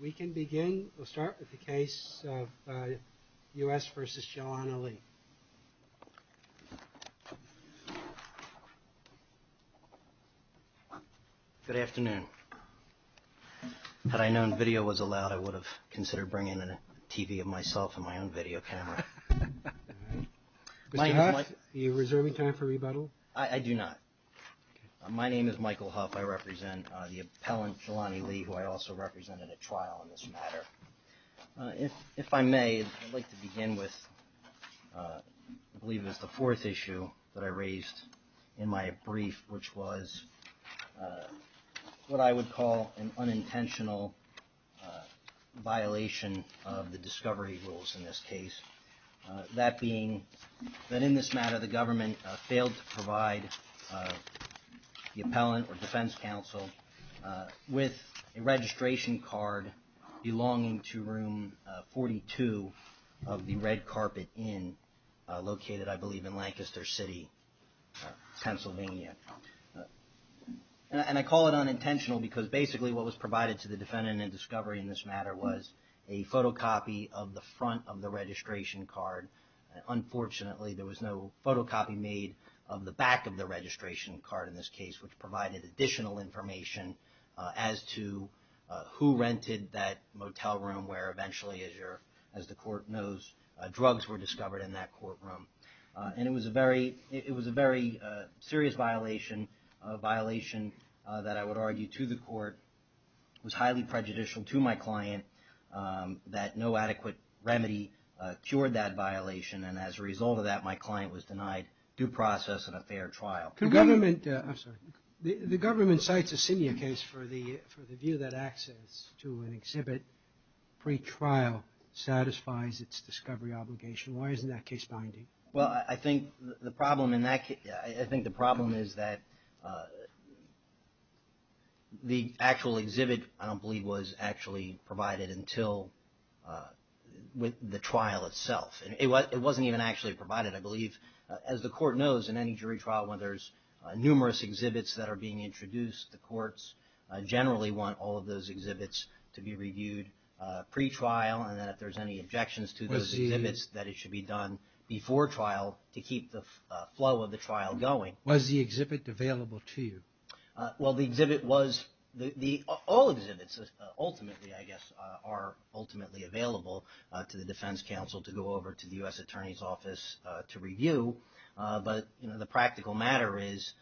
We can begin. We'll start with the case of U.S. vs. Jelani Lee. Good afternoon. Had I known video was allowed, I would have considered bringing in a TV of myself and my own video camera. Mr. Huff, are you reserving time for rebuttal? I do not. My name is Michael Huff. I represent the appellant Jelani Lee, who I also represented at trial in this matter. If I may, I'd like to begin with what I believe is the fourth issue that I raised in my brief, which was what I would call an unintentional violation of the discovery rules in this case. That being that in this matter the government failed to provide the appellant or defense counsel with a registration card belonging to room 42 of the Red Carpet Inn located, I believe, in Lancaster City, Pennsylvania. And I call it unintentional because basically what was provided to the defendant in discovery in this matter was a photocopy of the front of the registration card. Unfortunately, there was no photocopy made of the back of the registration card in this case, which provided additional information as to who rented that motel room where eventually, as the court knows, drugs were discovered in that courtroom. And it was a very serious violation, that I would argue to the court was highly prejudicial to my client, that no adequate remedy cured that violation. And as a result of that, my client was denied due process and a fair trial. The government cites a senior case for the view that access to an exhibit pre-trial satisfies its discovery obligation. Why isn't that case binding? Well, I think the problem in that case, I think the problem is that the actual exhibit, I don't believe was actually provided until the trial itself. It wasn't even actually provided, I believe. As the court knows, in any jury trial when there's numerous exhibits that are being introduced, the courts generally want all of those exhibits to be reviewed pre-trial, and that if there's any objections to those exhibits, that it should be done before trial to keep the flow of the trial going. Was the exhibit available to you? Well, the exhibit was, all exhibits ultimately, I guess, are ultimately available to the defense counsel to go over to the U.S. Attorney's Office to review. But the practical matter is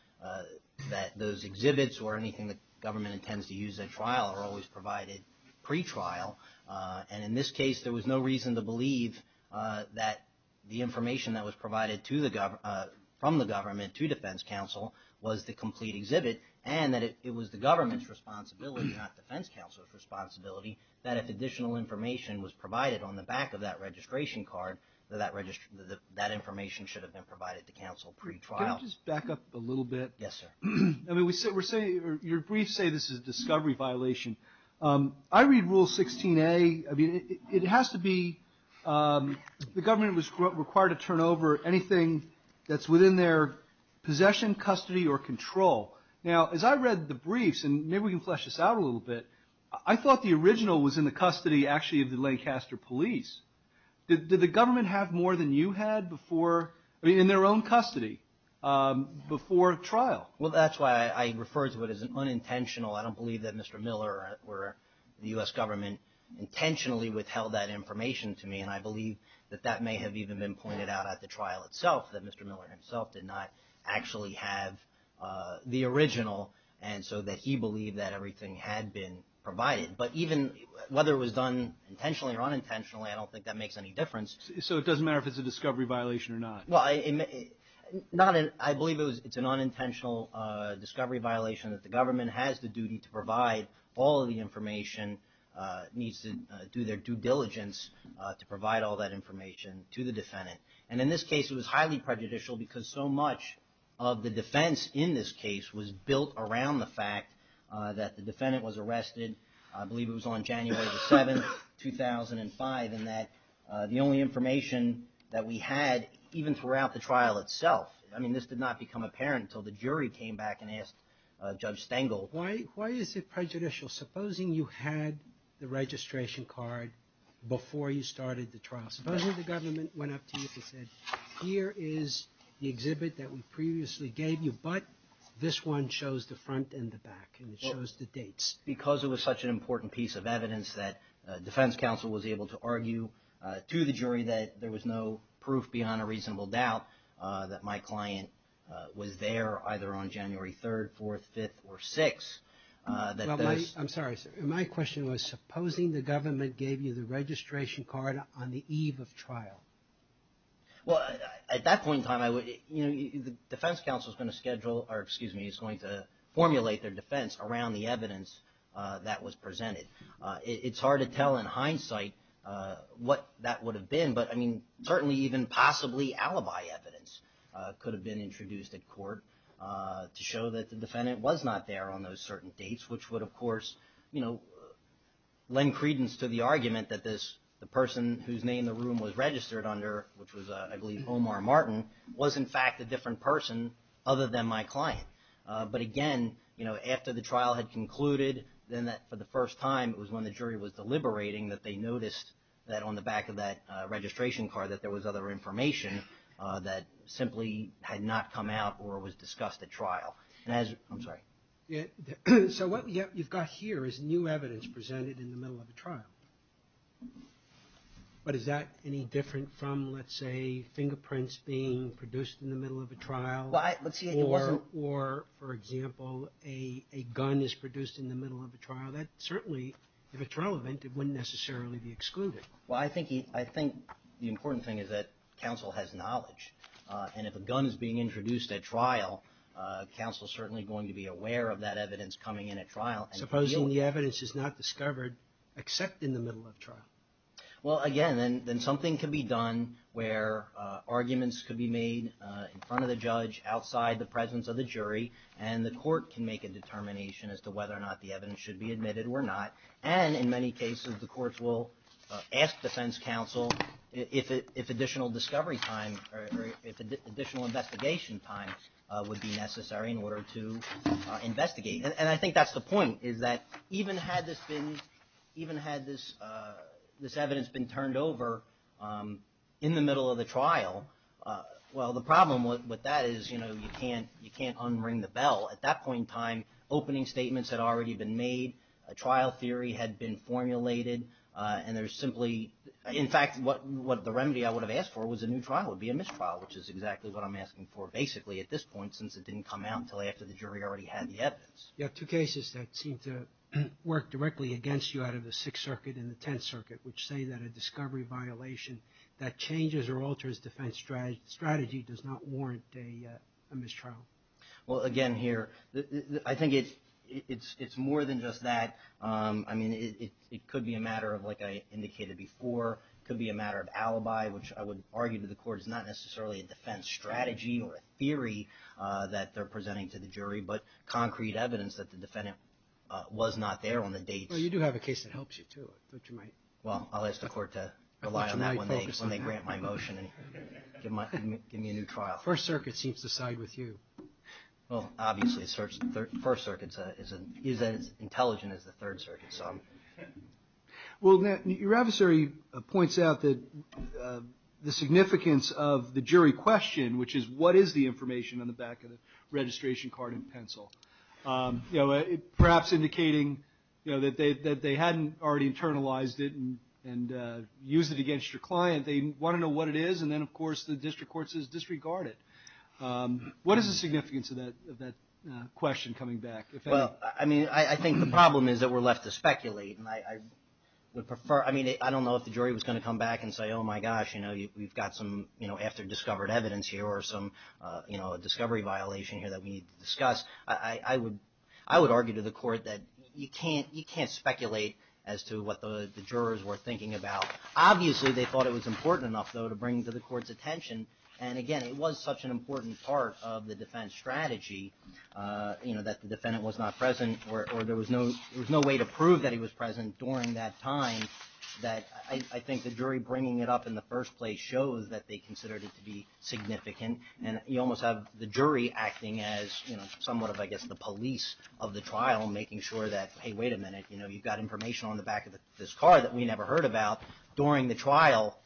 that those exhibits or anything the government intends to use at trial are always provided pre-trial. And in this case, there was no reason to believe that the information that was provided from the government to defense counsel was the complete exhibit, and that it was the government's responsibility, not defense counsel's responsibility, that if additional information was provided on the back of that registration card, that that information should have been provided to counsel pre-trial. Can I just back up a little bit? Yes, sir. I mean, your briefs say this is a discovery violation. I read Rule 16a. I mean, it has to be the government was required to turn over anything that's within their possession, custody, or control. Now, as I read the briefs, and maybe we can flesh this out a little bit, I thought the original was in the custody, actually, of the Lancaster police. Did the government have more than you had in their own custody before trial? Well, that's why I refer to it as an unintentional. I don't believe that Mr. Miller or the U.S. government intentionally withheld that information to me, and I believe that that may have even been pointed out at the trial itself, that Mr. Miller himself did not actually have the original, and so that he believed that everything had been provided. But even whether it was done intentionally or unintentionally, I don't think that makes any difference. So it doesn't matter if it's a discovery violation or not? Well, I believe it's an unintentional discovery violation that the government has the duty to provide all of the information, needs to do their due diligence to provide all that information to the defendant. And in this case, it was highly prejudicial because so much of the defense in this case was built around the fact that the defendant was arrested, I believe it was on January 7, 2005, and that the only information that we had, even throughout the trial itself, I mean, this did not become apparent until the jury came back and asked Judge Stengel. Why is it prejudicial? Supposing you had the registration card before you started the trial. Supposing the government went up to you and said, here is the exhibit that we previously gave you, but this one shows the front and the back, and it shows the dates. It's because it was such an important piece of evidence that defense counsel was able to argue to the jury that there was no proof beyond a reasonable doubt that my client was there either on January 3rd, 4th, 5th, or 6th. I'm sorry. My question was, supposing the government gave you the registration card on the eve of trial. At that point in time, the defense counsel is going to formulate their defense around the evidence that was presented. It's hard to tell in hindsight what that would have been, but certainly even possibly alibi evidence could have been introduced at court to show that the defendant was not there on those certain dates, which would of course lend credence to the argument that the person whose name the room was registered under, which was I believe Omar Martin, was in fact a different person other than my client. But again, after the trial had concluded, then for the first time it was when the jury was deliberating that they noticed that on the back of that registration card that there was other information that simply had not come out or was discussed at trial. I'm sorry. So what you've got here is new evidence presented in the middle of a trial. But is that any different from, let's say, fingerprints being produced in the middle of a trial? Or, for example, a gun is produced in the middle of a trial? That certainly, if it's relevant, it wouldn't necessarily be excluded. Well, I think the important thing is that counsel has knowledge. And if a gun is being introduced at trial, counsel is certainly going to be aware of that evidence coming in at trial. Supposing the evidence is not discovered except in the middle of trial? Well, again, then something can be done where arguments could be made in front of the judge, outside the presence of the jury, and the court can make a determination as to whether or not the evidence should be admitted or not. And, in many cases, the courts will ask defense counsel if additional discovery time or if additional investigation time would be necessary in order to investigate. And I think that's the point, is that even had this evidence been turned over in the middle of the trial, well, the problem with that is you can't unring the bell. At that point in time, opening statements had already been made. A trial theory had been formulated. And there's simply – in fact, the remedy I would have asked for was a new trial. It would be a mistrial, which is exactly what I'm asking for, basically, at this point, since it didn't come out until after the jury already had the evidence. You have two cases that seem to work directly against you out of the Sixth Circuit and the Tenth Circuit, which say that a discovery violation that changes or alters defense strategy does not warrant a mistrial. Well, again, here, I think it's more than just that. I mean, it could be a matter of, like I indicated before, it could be a matter of alibi, which I would argue to the court is not necessarily a defense strategy or a theory that they're presenting to the jury, but concrete evidence that the defendant was not there on the date. Well, you do have a case that helps you, too. Well, I'll ask the court to rely on that when they grant my motion and give me a new trial. First Circuit seems to side with you. Well, obviously, First Circuit is as intelligent as the Third Circuit. Well, your adversary points out the significance of the jury question, which is what is the information on the back of the registration card and pencil, perhaps indicating that they hadn't already internalized it and used it against your client. They want to know what it is, and then, of course, the district court says disregard it. What is the significance of that question coming back? Well, I mean, I think the problem is that we're left to speculate. I mean, I don't know if the jury was going to come back and say, oh, my gosh, we've got some after-discovered evidence here or some discovery violation here that we need to discuss. I would argue to the court that you can't speculate as to what the jurors were thinking about. Obviously, they thought it was important enough, though, to bring to the court's attention. And, again, it was such an important part of the defense strategy that the defendant was not present or there was no way to prove that he was present during that time that I think the jury bringing it up in the first place shows that they considered it to be significant. And you almost have the jury acting as somewhat of, I guess, the police of the trial, making sure that, hey, wait a minute, you've got information on the back of this car that we never heard about during the trial.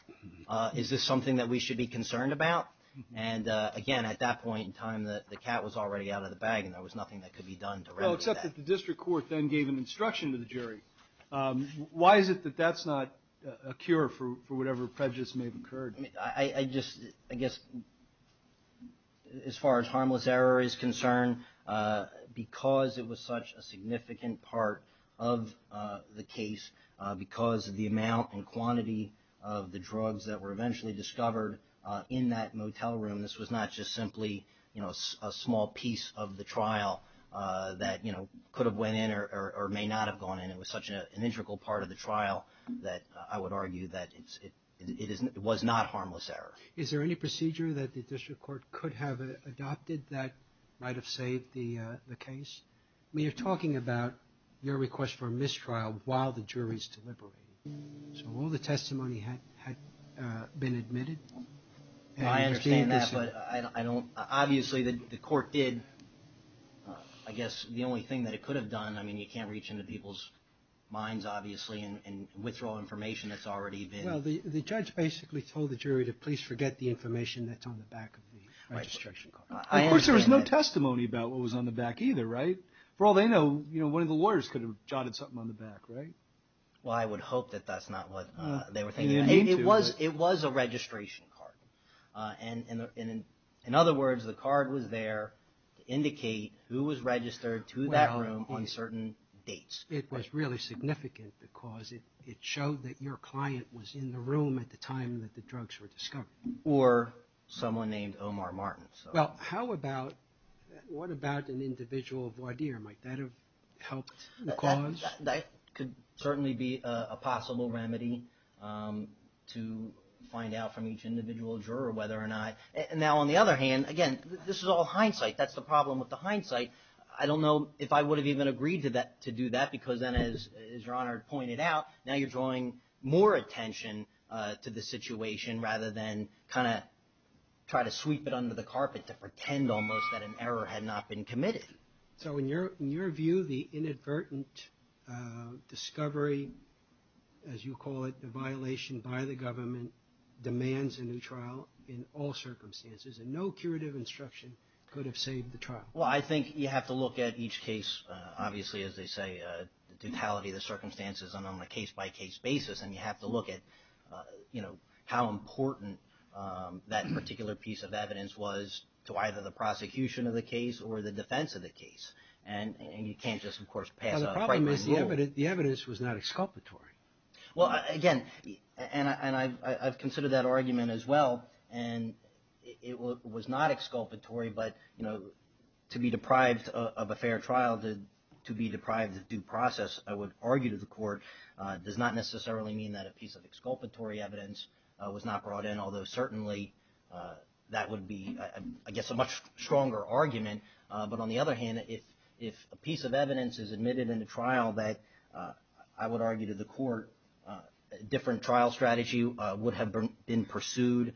Is this something that we should be concerned about? And, again, at that point in time, the cat was already out of the bag and there was nothing that could be done to remedy that. Well, except that the district court then gave an instruction to the jury. Why is it that that's not a cure for whatever prejudice may have occurred? I guess as far as harmless error is concerned, because it was such a significant part of the case, because of the amount and quantity of the drugs that were eventually discovered in that motel room, this was not just simply a small piece of the trial that could have went in or may not have gone in. It was such an integral part of the trial that I would argue that it was not harmless error. Is there any procedure that the district court could have adopted that might have saved the case? I mean, you're talking about your request for a mistrial while the jury's deliberating. So all the testimony had been admitted. I understand that, but obviously the court did, I guess, the only thing that it could have done, I mean, you can't reach into people's minds, obviously, and withdraw information that's already been... Well, the judge basically told the jury to please forget the information that's on the back of the registration card. Of course, there was no testimony about what was on the back either, right? For all they know, one of the lawyers could have jotted something on the back, right? Well, I would hope that that's not what they were thinking. It was a registration card. In other words, the card was there to indicate who was registered to that room on certain dates. It was really significant because it showed that your client was in the room at the time that the drugs were discovered. Or someone named Omar Martin. Well, how about, what about an individual voir dire? Might that have helped the cause? That could certainly be a possible remedy to find out from each individual juror whether or not... Now, on the other hand, again, this is all hindsight. That's the problem with the hindsight. I don't know if I would have even agreed to do that because then, as Your Honor pointed out, now you're drawing more attention to the situation rather than kind of try to sweep it under the carpet to pretend almost that an error had not been committed. So in your view, the inadvertent discovery, as you call it, the violation by the government, demands a new trial in all circumstances. And no curative instruction could have saved the trial. Well, I think you have to look at each case, obviously, as they say, the totality of the circumstances and on a case-by-case basis. And you have to look at, you know, how important that particular piece of evidence was to either the prosecution of the case or the defense of the case. And you can't just, of course, pass a primary rule. Now, the problem is the evidence was not exculpatory. Well, again, and I've considered that argument as well, and it was not exculpatory, but, you know, to be deprived of a fair trial, to be deprived of due process, I would argue to the court, does not necessarily mean that a piece of exculpatory evidence was not brought in, although certainly that would be, I guess, a much stronger argument. But on the other hand, if a piece of evidence is admitted in the trial, that, I would argue to the court, a different trial strategy would have been pursued,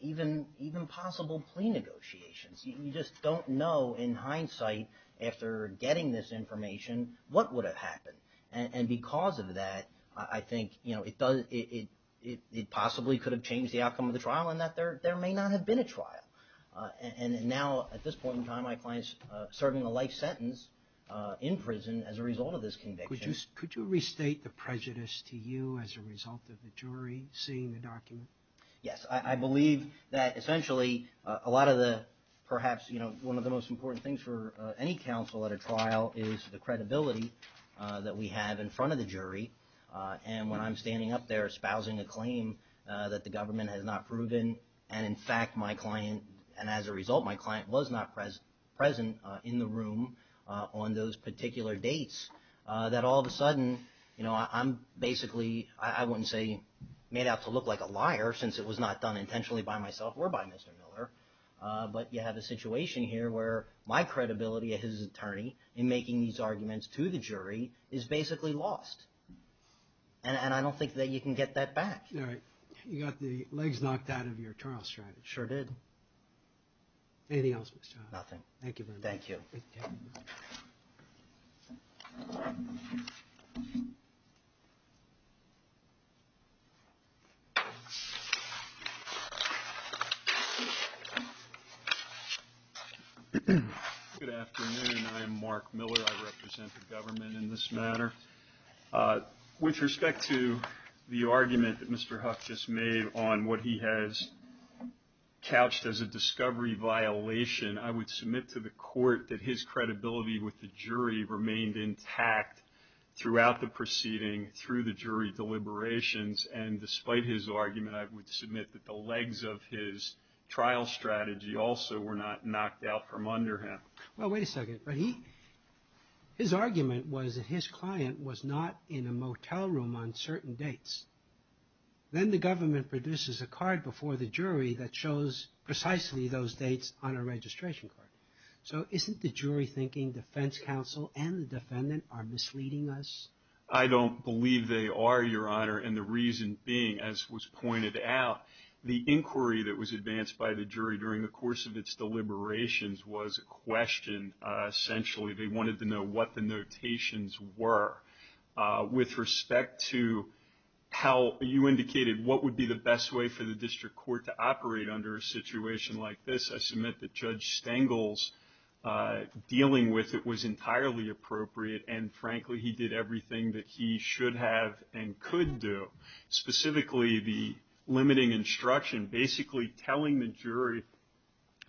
even possible plea negotiations. You just don't know, in hindsight, after getting this information, what would have happened. And because of that, I think, you know, it does, it possibly could have changed the outcome of the trial in that there may not have been a trial. And now, at this point in time, my client's serving a life sentence in prison as a result of this conviction. Could you restate the prejudice to you as a result of the jury seeing the document? Yes, I believe that, essentially, a lot of the, perhaps, you know, one of the most important things for any counsel at a trial is the credibility that we have in front of the jury. And when I'm standing up there espousing a claim that the government has not proven, and, in fact, my client, and as a result, my client was not present in the room on those particular dates, that all of a sudden, you know, I'm basically, I wouldn't say made out to look like a liar, since it was not done intentionally by myself or by Mr. Miller. But you have a situation here where my credibility as his attorney in making these arguments to the jury is basically lost. And I don't think that you can get that back. All right. You got the legs knocked out of your trial strategy. Sure did. Anything else, Mr. Hoffman? Nothing. Thank you very much. Thank you. Good afternoon. I am Mark Miller. I represent the government in this matter. With respect to the argument that Mr. Huff just made on what he has couched as a discovery violation, I would submit to the court that his credibility with the jury remained intact throughout the proceeding, through the jury deliberations. And despite his argument, I would submit that the legs of his trial strategy also were not knocked out from under him. Well, wait a second. His argument was that his client was not in a motel room on certain dates. Then the government produces a card before the jury that shows precisely those dates on a registration card. So isn't the jury thinking defense counsel and the defendant are misleading us? I don't believe they are, Your Honor, and the reason being, as was pointed out, the inquiry that was advanced by the jury during the course of its deliberations was a question. Essentially, they wanted to know what the notations were. With respect to how you indicated what would be the best way for the district court to operate under a situation like this, I submit that Judge Stengel's dealing with it was entirely appropriate, and, frankly, he did everything that he should have and could do, specifically the limiting instruction, basically telling the jury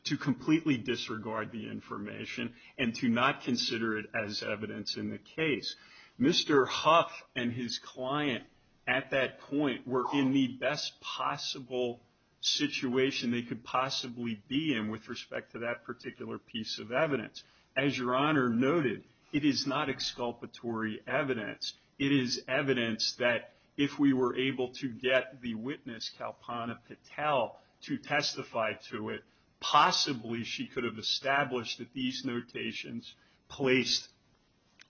to completely disregard the information and to not consider it as evidence in the case. Mr. Huff and his client at that point were in the best possible situation they could possibly be in with respect to that particular piece of evidence. As Your Honor noted, it is not exculpatory evidence. It is evidence that if we were able to get the witness, Kalpana Patel, to testify to it, possibly she could have established that these notations placed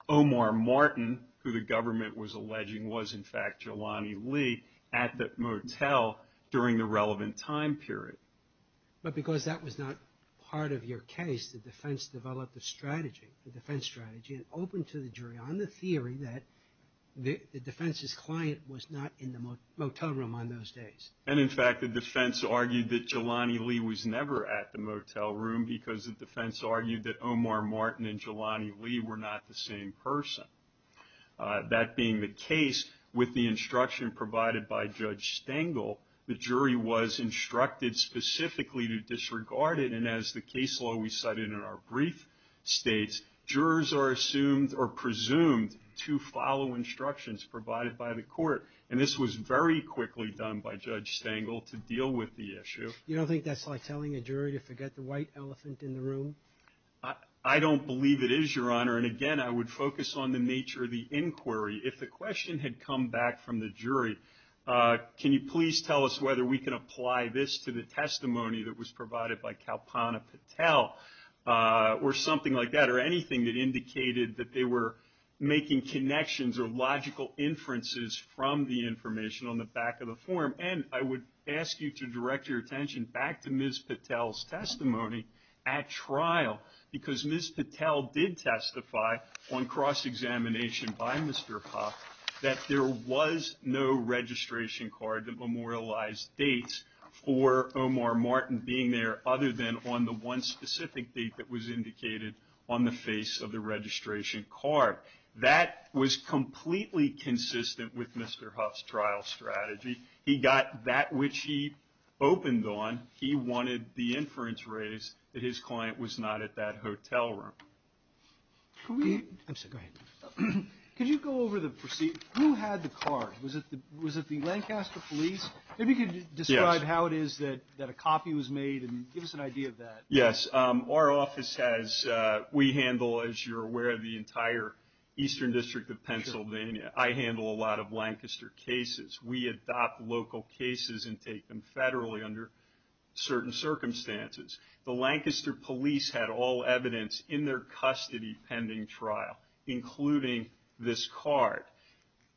Omar Martin, who the government was alleging was, in fact, Jelani Lee, at the motel during the relevant time period. But because that was not part of your case, the defense developed a strategy, a defense strategy, and opened to the jury on the theory that the defense's client was not in the motel room on those days. And, in fact, the defense argued that Jelani Lee was never at the motel room because the defense argued that Omar Martin and Jelani Lee were not the same person. That being the case, with the instruction provided by Judge Stengel, the jury was instructed specifically to disregard it, and as the case law we cited in our brief states, jurors are assumed or presumed to follow instructions provided by the court. And this was very quickly done by Judge Stengel to deal with the issue. You don't think that's like telling a jury to forget the white elephant in the room? I don't believe it is, Your Honor. And, again, I would focus on the nature of the inquiry. If the question had come back from the jury, can you please tell us whether we can apply this to the testimony that was provided by Kalpana Patel or something like that or anything that indicated that they were making connections or logical inferences from the information on the back of the form? And I would ask you to direct your attention back to Ms. Patel's testimony at trial because Ms. Patel did testify on cross-examination by Mr. Popp that there was no registration card that memorialized dates for Omar Martin being there other than on the one specific date that was indicated on the face of the registration card. That was completely consistent with Mr. Huff's trial strategy. He got that which he opened on. He wanted the inference raised that his client was not at that hotel room. Could you go over the proceedings? Who had the card? Was it the Lancaster police? Maybe you could describe how it is that a copy was made and give us an idea of that. Yes, our office has, we handle, as you're aware, the entire eastern district of Pennsylvania. I handle a lot of Lancaster cases. We adopt local cases and take them federally under certain circumstances. The Lancaster police had all evidence in their custody pending trial, including this card.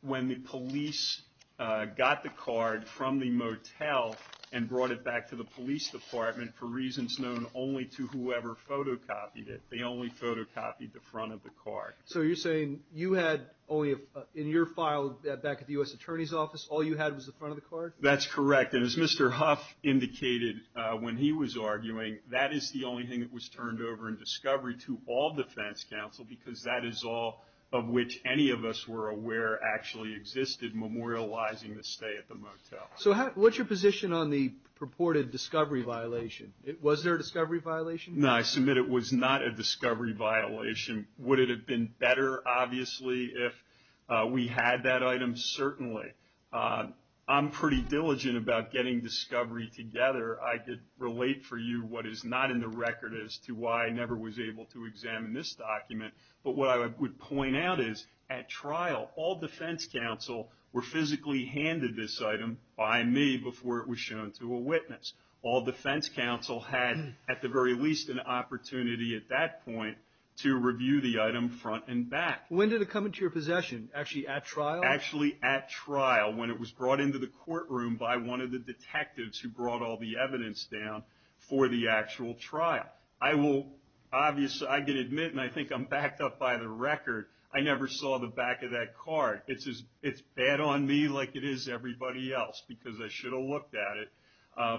When the police got the card from the motel and brought it back to the police department for reasons known only to whoever photocopied it, they only photocopied the front of the card. So you're saying you had only, in your file back at the U.S. Attorney's Office, all you had was the front of the card? That's correct. And as Mr. Huff indicated when he was arguing, that is the only thing that was turned over in discovery to all defense counsel because that is all of which any of us were aware actually existed, memorializing the stay at the motel. So what's your position on the purported discovery violation? Was there a discovery violation? No, I submit it was not a discovery violation. Would it have been better, obviously, if we had that item? Certainly. I'm pretty diligent about getting discovery together. I could relate for you what is not in the record as to why I never was able to examine this document. But what I would point out is at trial, all defense counsel were physically handed this item by me before it was shown to a witness. All defense counsel had at the very least an opportunity at that point to review the item front and back. When did it come into your possession? Actually at trial? Actually at trial when it was brought into the courtroom by one of the detectives who brought all the evidence down for the actual trial. Obviously, I can admit and I think I'm backed up by the record, I never saw the back of that card. It's bad on me like it is everybody else because I should have looked at it.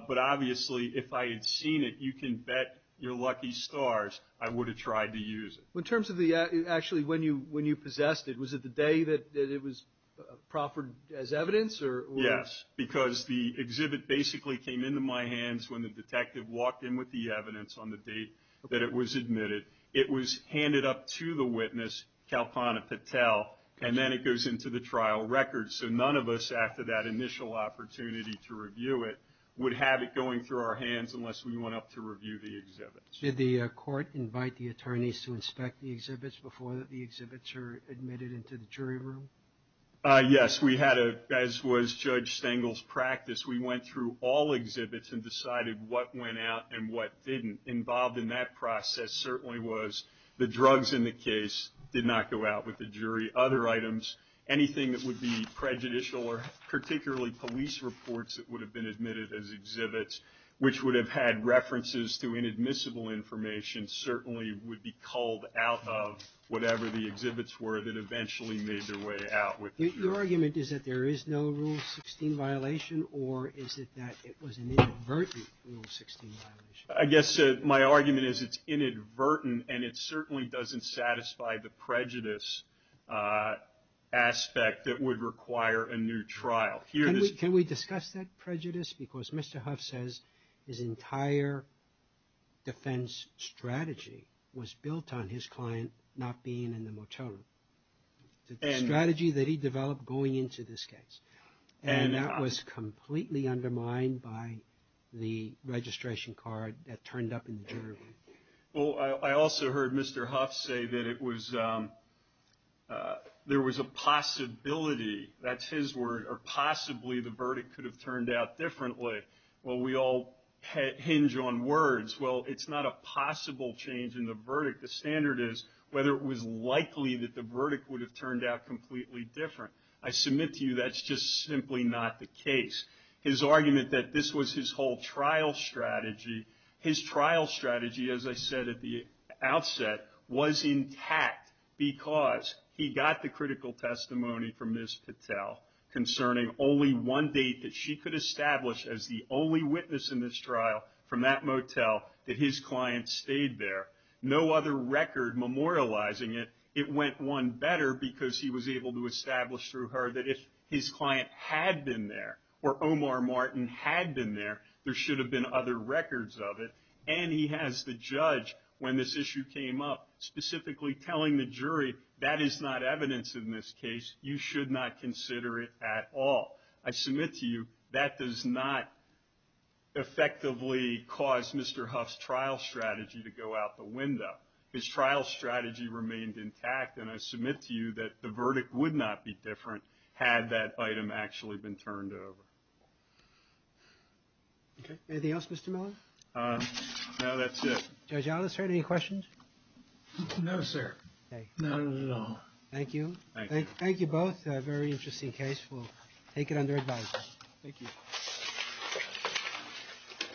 But obviously, if I had seen it, you can bet your lucky stars, I would have tried to use it. Actually, when you possessed it, was it the day that it was proffered as evidence? Yes, because the exhibit basically came into my hands when the detective walked in with the evidence on the date that it was admitted. It was handed up to the witness, Kalpana Patel, and then it goes into the trial record. So none of us, after that initial opportunity to review it, would have it going through our hands unless we went up to review the exhibit. Did the court invite the attorneys to inspect the exhibits before the exhibits were admitted into the jury room? Yes. As was Judge Stengel's practice, we went through all exhibits and decided what went out and what didn't. Involved in that process certainly was the drugs in the case did not go out with the jury. Other items, anything that would be prejudicial or particularly police reports that would have been admitted as exhibits, which would have had references to inadmissible information, certainly would be culled out of whatever the exhibits were that eventually made their way out with the jury. Your argument is that there is no Rule 16 violation, or is it that it was an inadvertent Rule 16 violation? I guess my argument is it's inadvertent, and it certainly doesn't satisfy the prejudice aspect that would require a new trial. Can we discuss that prejudice? Because Mr. Huff says his entire defense strategy was built on his client not being in the motel room. The strategy that he developed going into this case. And that was completely undermined by the registration card that turned up in the jury room. Well, I also heard Mr. Huff say that it was – there was a possibility, that's his word, or possibly the verdict could have turned out differently. Well, we all hinge on words. The standard is whether it was likely that the verdict would have turned out completely different. I submit to you that's just simply not the case. His argument that this was his whole trial strategy, his trial strategy, as I said at the outset, was intact because he got the critical testimony from Ms. Patel concerning only one date that she could establish as the only witness in this trial from that motel that his client stayed there. No other record memorializing it. It went one better because he was able to establish through her that if his client had been there or Omar Martin had been there, there should have been other records of it. And he has the judge, when this issue came up, specifically telling the jury, that is not evidence in this case. You should not consider it at all. I submit to you that does not effectively cause Mr. Huff's trial strategy to go out the window. His trial strategy remained intact, and I submit to you that the verdict would not be different had that item actually been turned over. Anything else, Mr. Miller? No, that's it. Judge Ellis, sir, any questions? No, sir. None at all. Thank you. Thank you both. It's a very interesting case. We'll take it under advisement. Thank you.